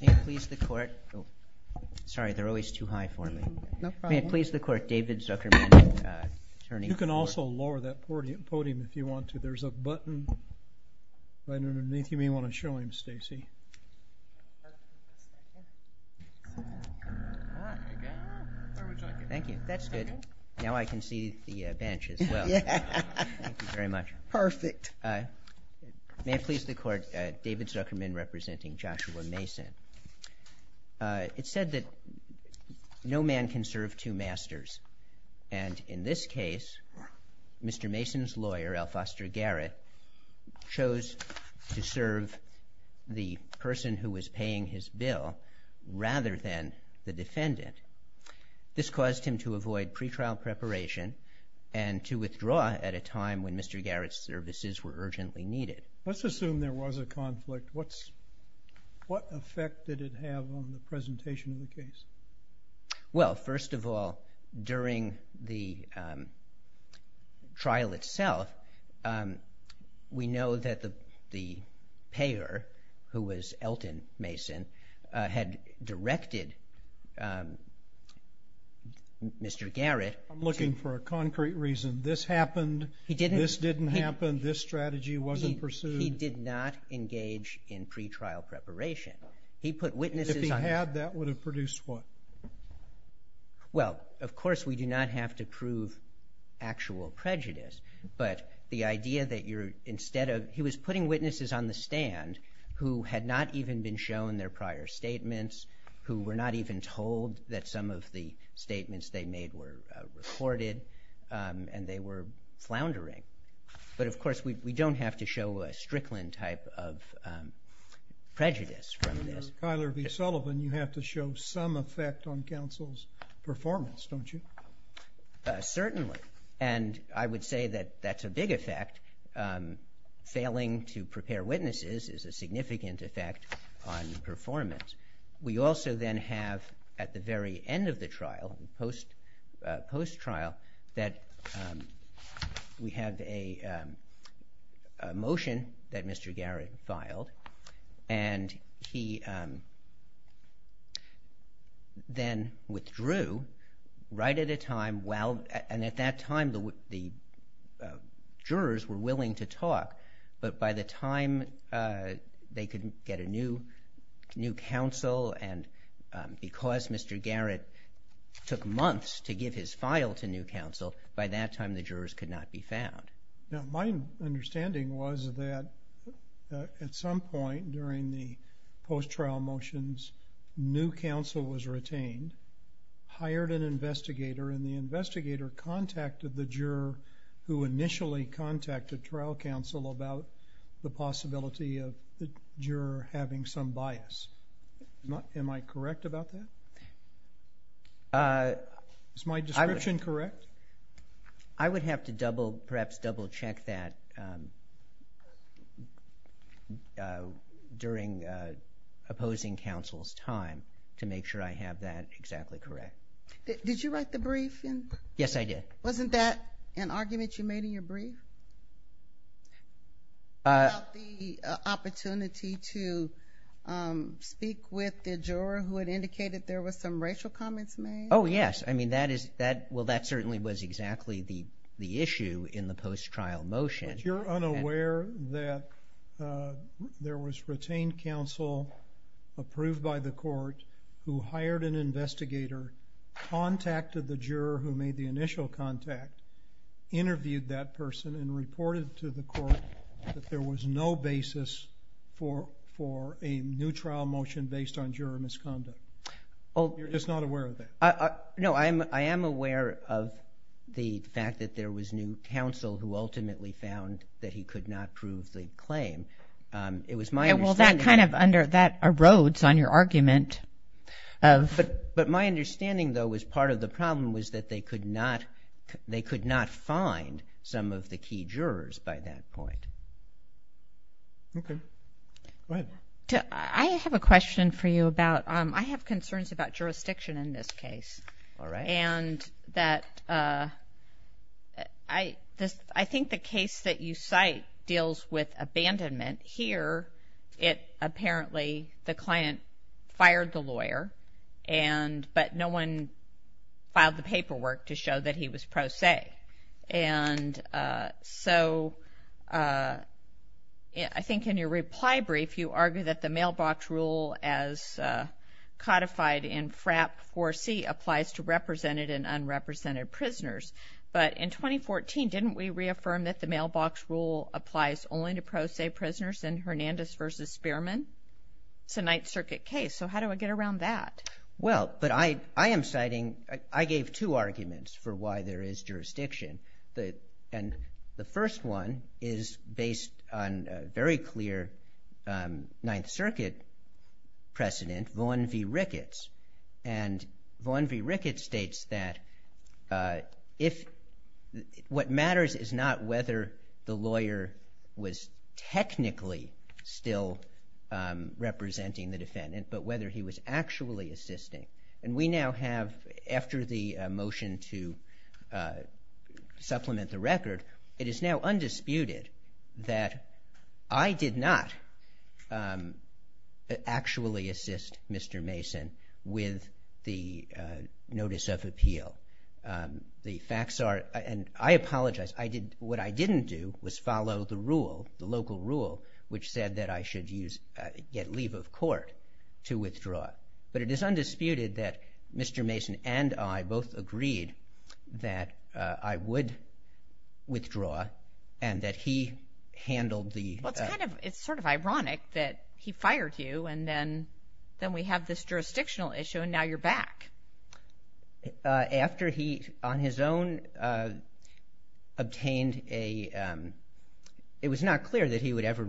May it please the court, sorry they're always too high for me. May it please the court, David Zuckerman, attorney. You can also lower that podium if you want to. There's a button right underneath you. You may want to show him, Stacey. Thank you. That's good. Now I can see the bench as well. Thank you very much. Perfect. May it please the court, David Zuckerman representing Joshua Mason. It's said that no man can serve two masters. And in this case, Mr. Mason's lawyer, Al Foster Garrett, chose to serve the person who was paying his bill rather than the defendant. This caused him to avoid pretrial preparation and to withdraw at a time when Mr. Garrett's services were urgently needed. Let's assume there was a conflict. What effect did it have on the presentation of the case? Well, first of all, during the trial itself, we know that the payer, who was Elton Mason, had directed Mr. Garrett I'm looking for a concrete reason. This happened, this didn't happen, this strategy wasn't pursued. He did not engage in pretrial preparation. If he had, that would have produced what? Well, of course, we do not have to prove actual prejudice, but the idea that you're instead of, he was putting witnesses on the stand who had not even been shown their prior statements, who were not even told that some of the statements they made were recorded, and they were floundering. But, of course, we don't have to show a Strickland type of prejudice from this. Tyler V. Sullivan, you have to show some effect on counsel's performance, don't you? Certainly, and I would say that that's a big effect. Failing to prepare witnesses is a significant effect on performance. We also then have, at the very end of the trial, post-trial, that we have a motion that Mr. Garrett filed, and he then withdrew right at a time, and at that time the jurors were willing to talk, but by the time they could get a new counsel, and because Mr. Garrett took months to give his file to new counsel, by that time the jurors could not be found. Now, my understanding was that at some point during the post-trial motions, new counsel was retained, hired an investigator, and the investigator contacted the juror who initially contacted trial counsel about the possibility of the juror having some bias. Am I correct about that? Is my description correct? I would have to perhaps double-check that during opposing counsel's time to make sure I have that exactly correct. Did you write the brief? Yes, I did. Wasn't that an argument you made in your brief about the opportunity to speak with the juror who had indicated there were some racial comments made? Oh, yes. Well, that certainly was exactly the issue in the post-trial motion. But you're unaware that there was retained counsel approved by the court who hired an investigator, contacted the juror who made the initial contact, interviewed that person, and reported to the court that there was no basis for a new trial motion based on juror misconduct. You're just not aware of that? No, I am aware of the fact that there was new counsel who ultimately found that he could not prove the claim. It was my understanding. Well, that kind of erodes on your argument. But my understanding, though, was part of the problem was that they could not find some of the key jurors by that point. Okay. Go ahead. I have a question for you about I have concerns about jurisdiction in this case. All right. And that I think the case that you cite deals with abandonment. Here, apparently the client fired the lawyer, but no one filed the paperwork to show that he was pro se. And so I think in your reply brief, you argue that the mailbox rule as codified in FRAP 4C applies to represented and unrepresented prisoners. But in 2014, didn't we reaffirm that the mailbox rule applies only to pro se prisoners in Hernandez v. Spearman? It's a Ninth Circuit case, so how do I get around that? Well, but I am citing I gave two arguments for why there is jurisdiction. And the first one is based on a very clear Ninth Circuit precedent, Vaughn v. Ricketts. And Vaughn v. Ricketts states that what matters is not whether the lawyer was technically still representing the defendant, but whether he was actually assisting. And we now have after the motion to supplement the record, it is now undisputed that I did not actually assist Mr. Mason with the notice of appeal. The facts are, and I apologize, what I didn't do was follow the rule, the local rule, which said that I should get leave of court to withdraw. But it is undisputed that Mr. Mason and I both agreed that I would withdraw and that he handled the- Well, it's sort of ironic that he fired you, and then we have this jurisdictional issue, and now you're back. After he, on his own, obtained a- it was not clear that he would ever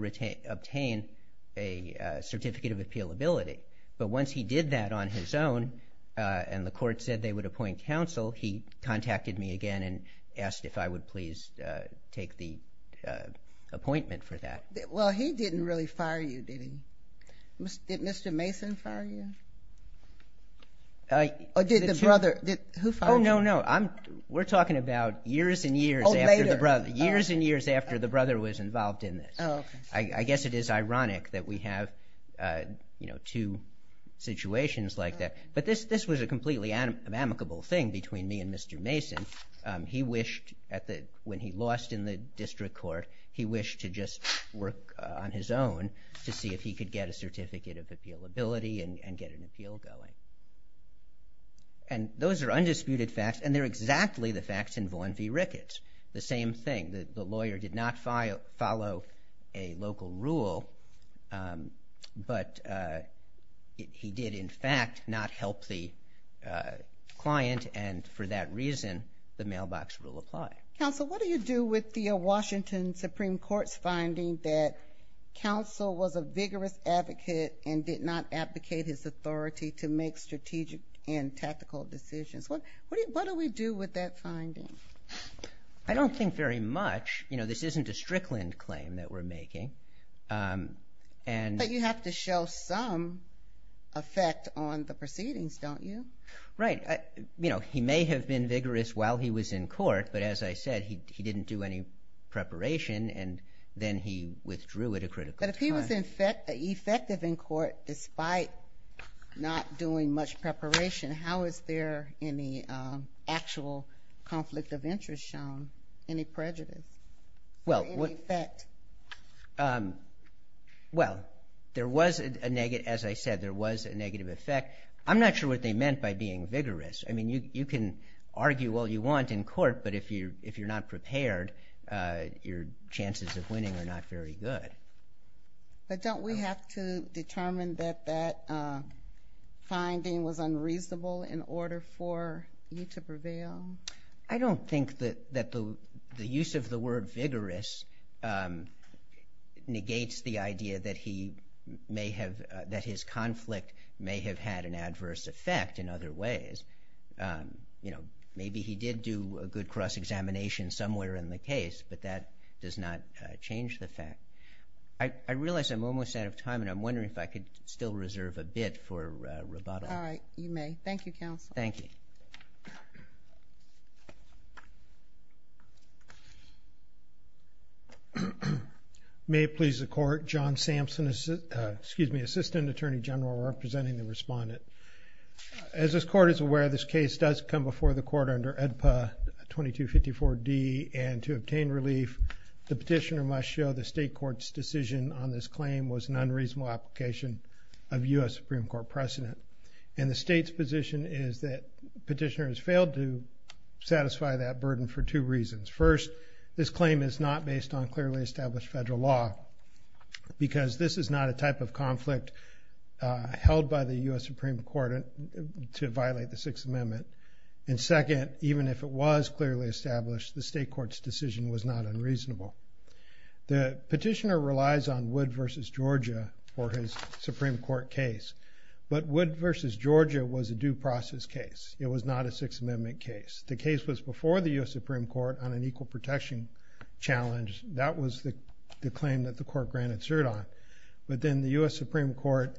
obtain a certificate of appealability. But once he did that on his own and the court said they would appoint counsel, he contacted me again and asked if I would please take the appointment for that. Well, he didn't really fire you, did he? Did Mr. Mason fire you? Or did the brother? Who fired you? Oh, no, no. We're talking about years and years after the brother. Oh, later. Years and years after the brother was involved in this. Oh, okay. I guess it is ironic that we have two situations like that. But this was a completely amicable thing between me and Mr. Mason. He wished, when he lost in the district court, he wished to just work on his own to see if he could get a certificate of appealability and get an appeal going. And those are undisputed facts, and they're exactly the facts in Vaughn v. Ricketts. The same thing. The lawyer did not follow a local rule, but he did, in fact, not help the client, and for that reason the mailbox rule applied. Counsel, what do you do with the Washington Supreme Court's finding that counsel was a vigorous advocate and did not advocate his authority to make strategic and tactical decisions? What do we do with that finding? I don't think very much. This isn't a Strickland claim that we're making. But you have to show some effect on the proceedings, don't you? Right. He may have been vigorous while he was in court, but as I said, he didn't do any preparation, and then he withdrew at a critical time. But if he was effective in court despite not doing much preparation, how is there any actual conflict of interest shown, any prejudice, any effect? Well, there was, as I said, there was a negative effect. I'm not sure what they meant by being vigorous. I mean, you can argue all you want in court, but if you're not prepared, your chances of winning are not very good. But don't we have to determine that that finding was unreasonable in order for you to prevail? I don't think that the use of the word vigorous negates the idea that he may have, that his conflict may have had an adverse effect in other ways. You know, maybe he did do a good cross-examination somewhere in the case, but that does not change the fact. I realize I'm almost out of time, and I'm wondering if I could still reserve a bit for rebuttal. All right. You may. Thank you. May it please the Court, John Sampson, Assistant Attorney General, representing the respondent. As this Court is aware, this case does come before the Court under AEDPA 2254D, and to obtain relief the petitioner must show the state court's decision on this claim was an unreasonable application of U.S. Supreme Court precedent. And the state's position is that the petitioner has failed to satisfy that burden for two reasons. First, this claim is not based on clearly established federal law, because this is not a type of conflict held by the U.S. Supreme Court to violate the Sixth Amendment. And second, even if it was clearly established, the state court's decision was not unreasonable. The petitioner relies on Wood v. Georgia for his Supreme Court case, but Wood v. Georgia was a due process case. It was not a Sixth Amendment case. The case was before the U.S. Supreme Court on an equal protection challenge. That was the claim that the Court granted cert on. But then the U.S. Supreme Court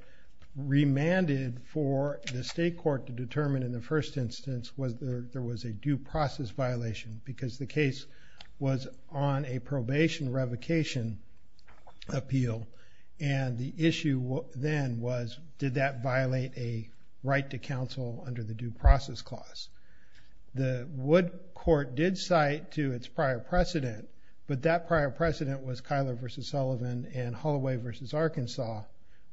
remanded for the state court to determine in the first instance whether there was a due process violation, because the case was on a probation revocation appeal. And the issue then was did that violate a right to counsel under the due process clause? The Wood court did cite to its prior precedent, but that prior precedent was Kyler v. Sullivan and Holloway v. Arkansas,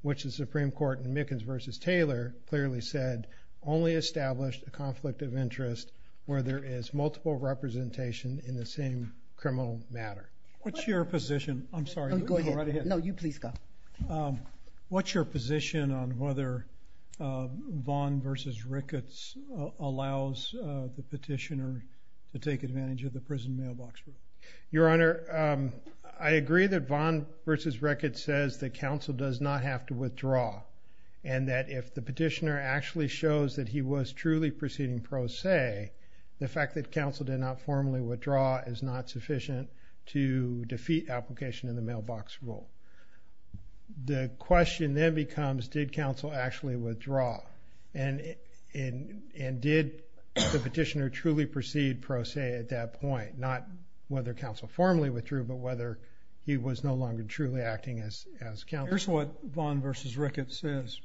which the Supreme Court in Mickens v. Taylor clearly said only established a conflict of interest where there is multiple representation in the same criminal matter. What's your position? I'm sorry. Go ahead. No, you please go. What's your position on whether Vaughn v. Ricketts allows the petitioner to take advantage of the prison mailbox rule? Your Honor, I agree that Vaughn v. Ricketts says that counsel does not have to withdraw and that if the petitioner actually shows that he was truly proceeding pro se, the fact that counsel did not formally withdraw is not sufficient to defeat application in the mailbox rule. The question then becomes did counsel actually withdraw and did the petitioner truly proceed pro se at that point, not whether counsel formally withdrew but whether he was no longer truly acting as counsel? Here's what Vaughn v. Ricketts says.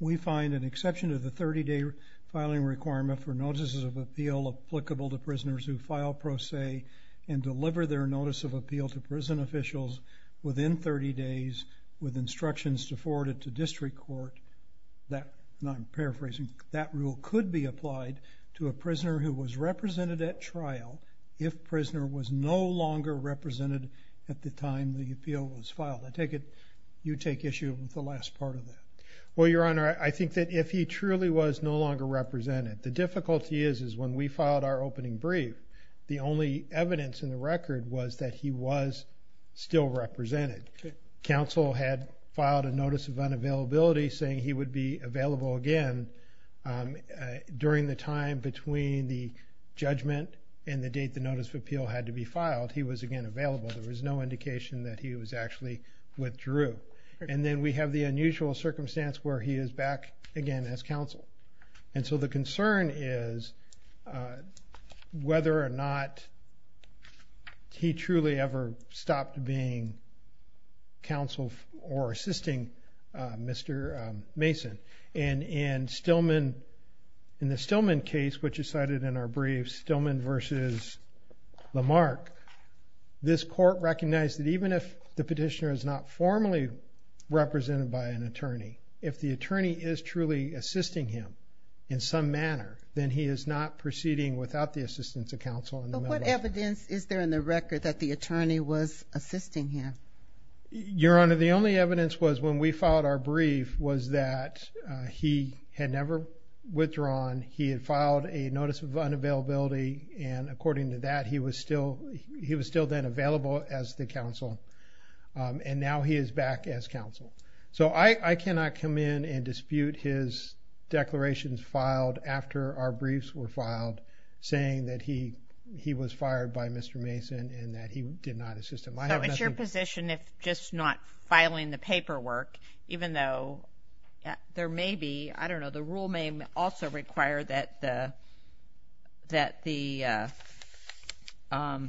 We find an exception to the 30-day filing requirement for notices of appeal applicable to prisoners who file pro se and deliver their notice of appeal to prison officials within 30 days with instructions to forward it to district court. I'm paraphrasing. That rule could be applied to a prisoner who was represented at trial You take issue with the last part of that. Well, Your Honor, I think that if he truly was no longer represented, the difficulty is when we filed our opening brief, the only evidence in the record was that he was still represented. Counsel had filed a notice of unavailability saying he would be available again. During the time between the judgment and the date the notice of appeal had to be filed, he was again available. There was no indication that he was actually withdrew. And then we have the unusual circumstance where he is back again as counsel. And so the concern is whether or not he truly ever stopped being counsel or assisting Mr. Mason. And in the Stillman case, which is cited in our brief, Stillman v. Lamarck, this court recognized that even if the petitioner is not formally represented by an attorney, if the attorney is truly assisting him in some manner, then he is not proceeding without the assistance of counsel. But what evidence is there in the record that the attorney was assisting him? Your Honor, the only evidence was when we filed our brief was that he had never withdrawn. He had filed a notice of unavailability. And according to that, he was still then available as the counsel. And now he is back as counsel. So I cannot come in and dispute his declarations filed after our briefs were filed saying that he was fired by Mr. Mason and that he did not assist him. So it's your position if just not filing the paperwork, even though there may be, I don't know, the rule may also require that the, that the, that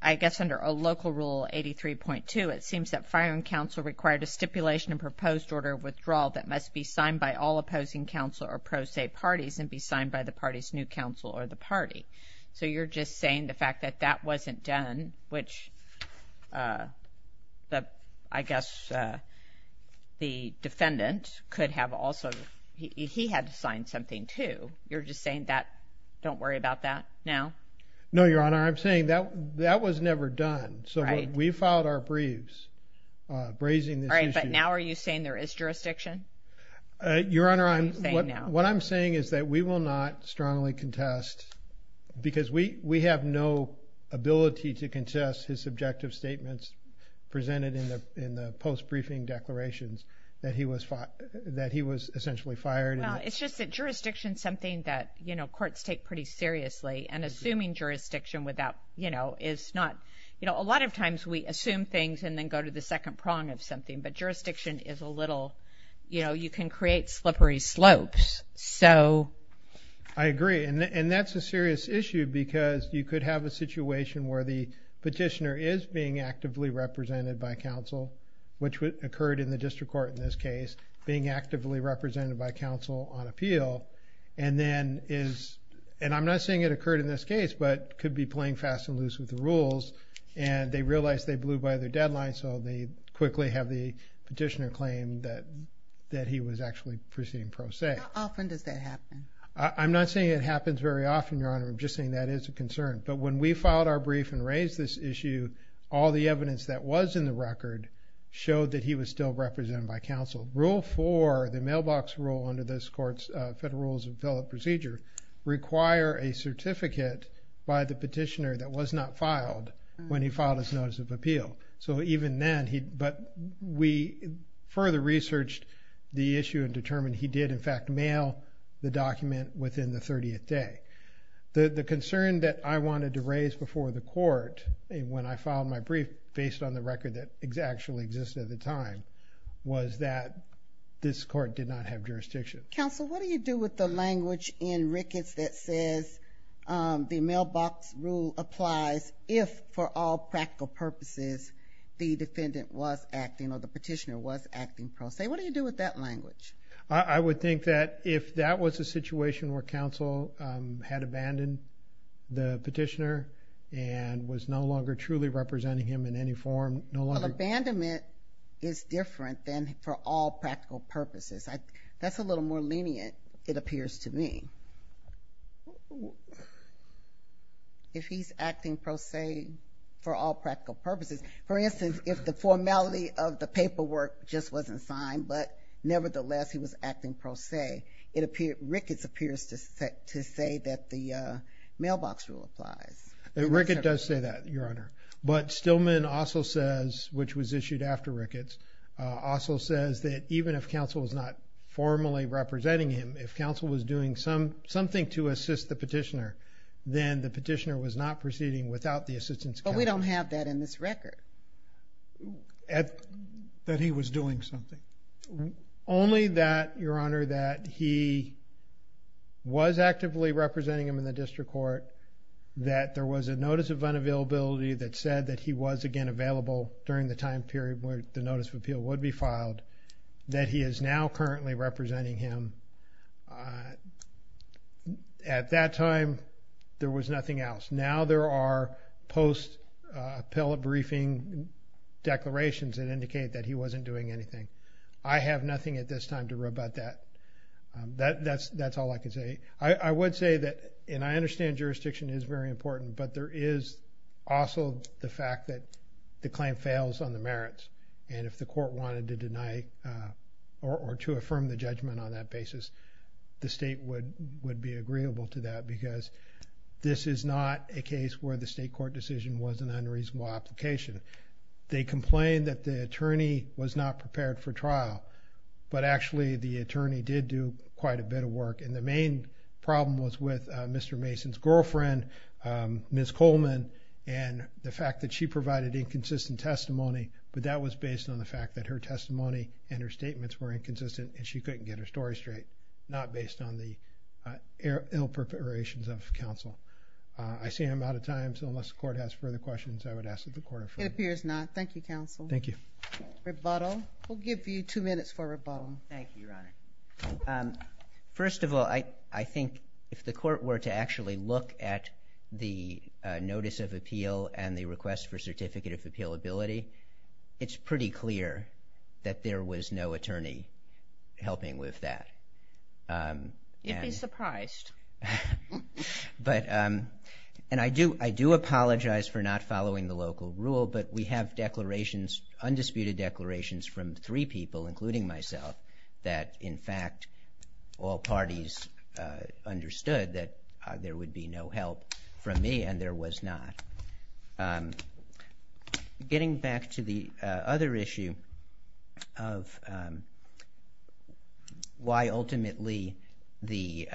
I guess under a local rule, 83.2, it seems that firing counsel required a stipulation and proposed order of withdrawal that must be signed by all opposing counsel or pro se parties and be signed by the party's new counsel or the party. So you're just saying the fact that that wasn't done, which I guess the defendant could have also, he had to sign something too. You're just saying that, don't worry about that now? No, Your Honor, I'm saying that that was never done. So we filed our briefs brazing this issue. All right, but now are you saying there is jurisdiction? Your Honor, what I'm saying is that we will not strongly contest because we have no ability to contest his subjective statements presented in the post-briefing declarations that he was essentially fired. Well, it's just that jurisdiction is something that, you know, courts take pretty seriously and assuming jurisdiction without, you know, is not, you know, a lot of times we assume things and then go to the second prong of something, but jurisdiction is a little, you know, you can create slippery slopes. I agree, and that's a serious issue because you could have a situation where the petitioner is being actively represented by counsel, which occurred in the district court in this case, being actively represented by counsel on appeal and then is, and I'm not saying it occurred in this case, but could be playing fast and loose with the rules and they realize they blew by their deadline, so they quickly have the petitioner claim that he was actually proceeding pro se. How often does that happen? I'm not saying it happens very often, Your Honor. I'm just saying that is a concern. But when we filed our brief and raised this issue, all the evidence that was in the record showed that he was still represented by counsel. Rule 4, the mailbox rule under this court's Federal Rules of Appellate Procedure, require a certificate by the petitioner that was not filed when he filed his notice of appeal. So even then he, but we further researched the issue and determined he did in fact mail the document within the 30th day. The concern that I wanted to raise before the court when I filed my brief based on the record that actually existed at the time was that this court did not have jurisdiction. Counsel, what do you do with the language in Ricketts that says the mailbox rule applies if, for all practical purposes, the defendant was acting or the petitioner was acting pro se? What do you do with that language? I would think that if that was a situation where counsel had abandoned the petitioner and was no longer truly representing him in any form, no longer... Well, abandonment is different than for all practical purposes. That's a little more lenient, it appears to me. If he's acting pro se for all practical purposes, for instance, if the formality of the paperwork just wasn't signed but nevertheless he was acting pro se, Ricketts appears to say that the mailbox rule applies. Ricketts does say that, Your Honor. But Stillman also says, which was issued after Ricketts, also says that even if counsel was not formally representing him, if counsel was doing something to assist the petitioner, then the petitioner was not proceeding without the assistance of counsel. But we don't have that in this record. That he was doing something. Only that, Your Honor, that he was actively representing him in the district court, that there was a notice of unavailability that said that he was, again, available during the time period where the notice of appeal would be filed, that he is now currently representing him. At that time, there was nothing else. Now there are post-appellate briefing declarations that indicate that he wasn't doing anything. I have nothing at this time to rebut that. That's all I can say. I would say that, and I understand jurisdiction is very important, but there is also the fact that the claim fails on the merits. And if the court wanted to deny or to affirm the judgment on that basis, the state would be agreeable to that because this is not a case where the state court decision was an unreasonable application. They complained that the attorney was not prepared for trial, but actually the attorney did do quite a bit of work. And the main problem was with Mr. Mason's girlfriend, Ms. Coleman, and the fact that she provided inconsistent testimony. But that was based on the fact that her testimony and her statements were inconsistent and she couldn't get her story straight, not based on the ill-preparations of counsel. I see I'm out of time, so unless the court has further questions, I would ask that the court affirm. It appears not. Thank you, counsel. Thank you. Rebuttal. We'll give you two minutes for rebuttal. Thank you, Your Honor. First of all, I think if the court were to actually look at the notice of appeal and the request for certificate of appealability, it's pretty clear that there was no attorney helping with that. You'd be surprised. And I do apologize for not following the local rule, but we have undisputed declarations from three people, including myself, that in fact all parties understood that there would be no help from me, and there was not. Getting back to the other issue of why ultimately the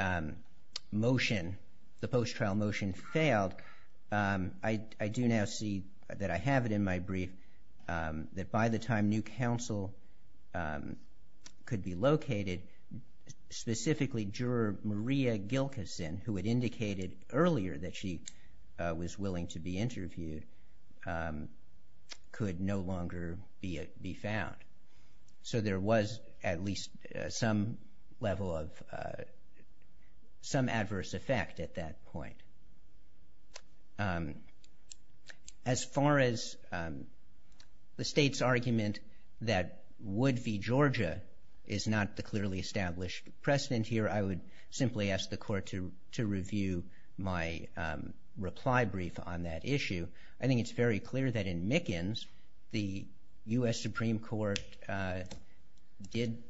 motion, the post-trial motion failed, I do now see that I have it in my brief, that by the time new counsel could be located, specifically Juror Maria Gilkyson, who had indicated earlier that she was willing to be interviewed, could no longer be found. So there was at least some level of some adverse effect at that point. As far as the State's argument that Wood v. Georgia is not the clearly established precedent here, I would simply ask the court to review my reply brief on that issue. I think it's very clear that in Mickens, the U.S. Supreme Court did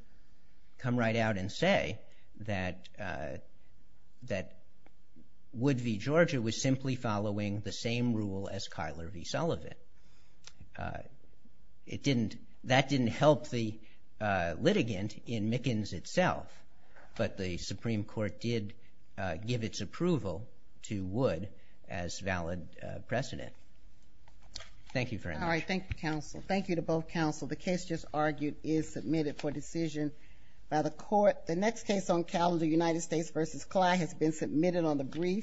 come right out and say that Wood v. Georgia was simply following the same rule as Kyler v. Sullivan. That didn't help the litigant in Mickens itself, but the Supreme Court did give its approval to Wood as valid precedent. Thank you very much. All right. Thank you, counsel. Thank you to both counsel. The case just argued is submitted for decision by the court. The next case on calendar, United States v. Clyde, has been submitted on the brief.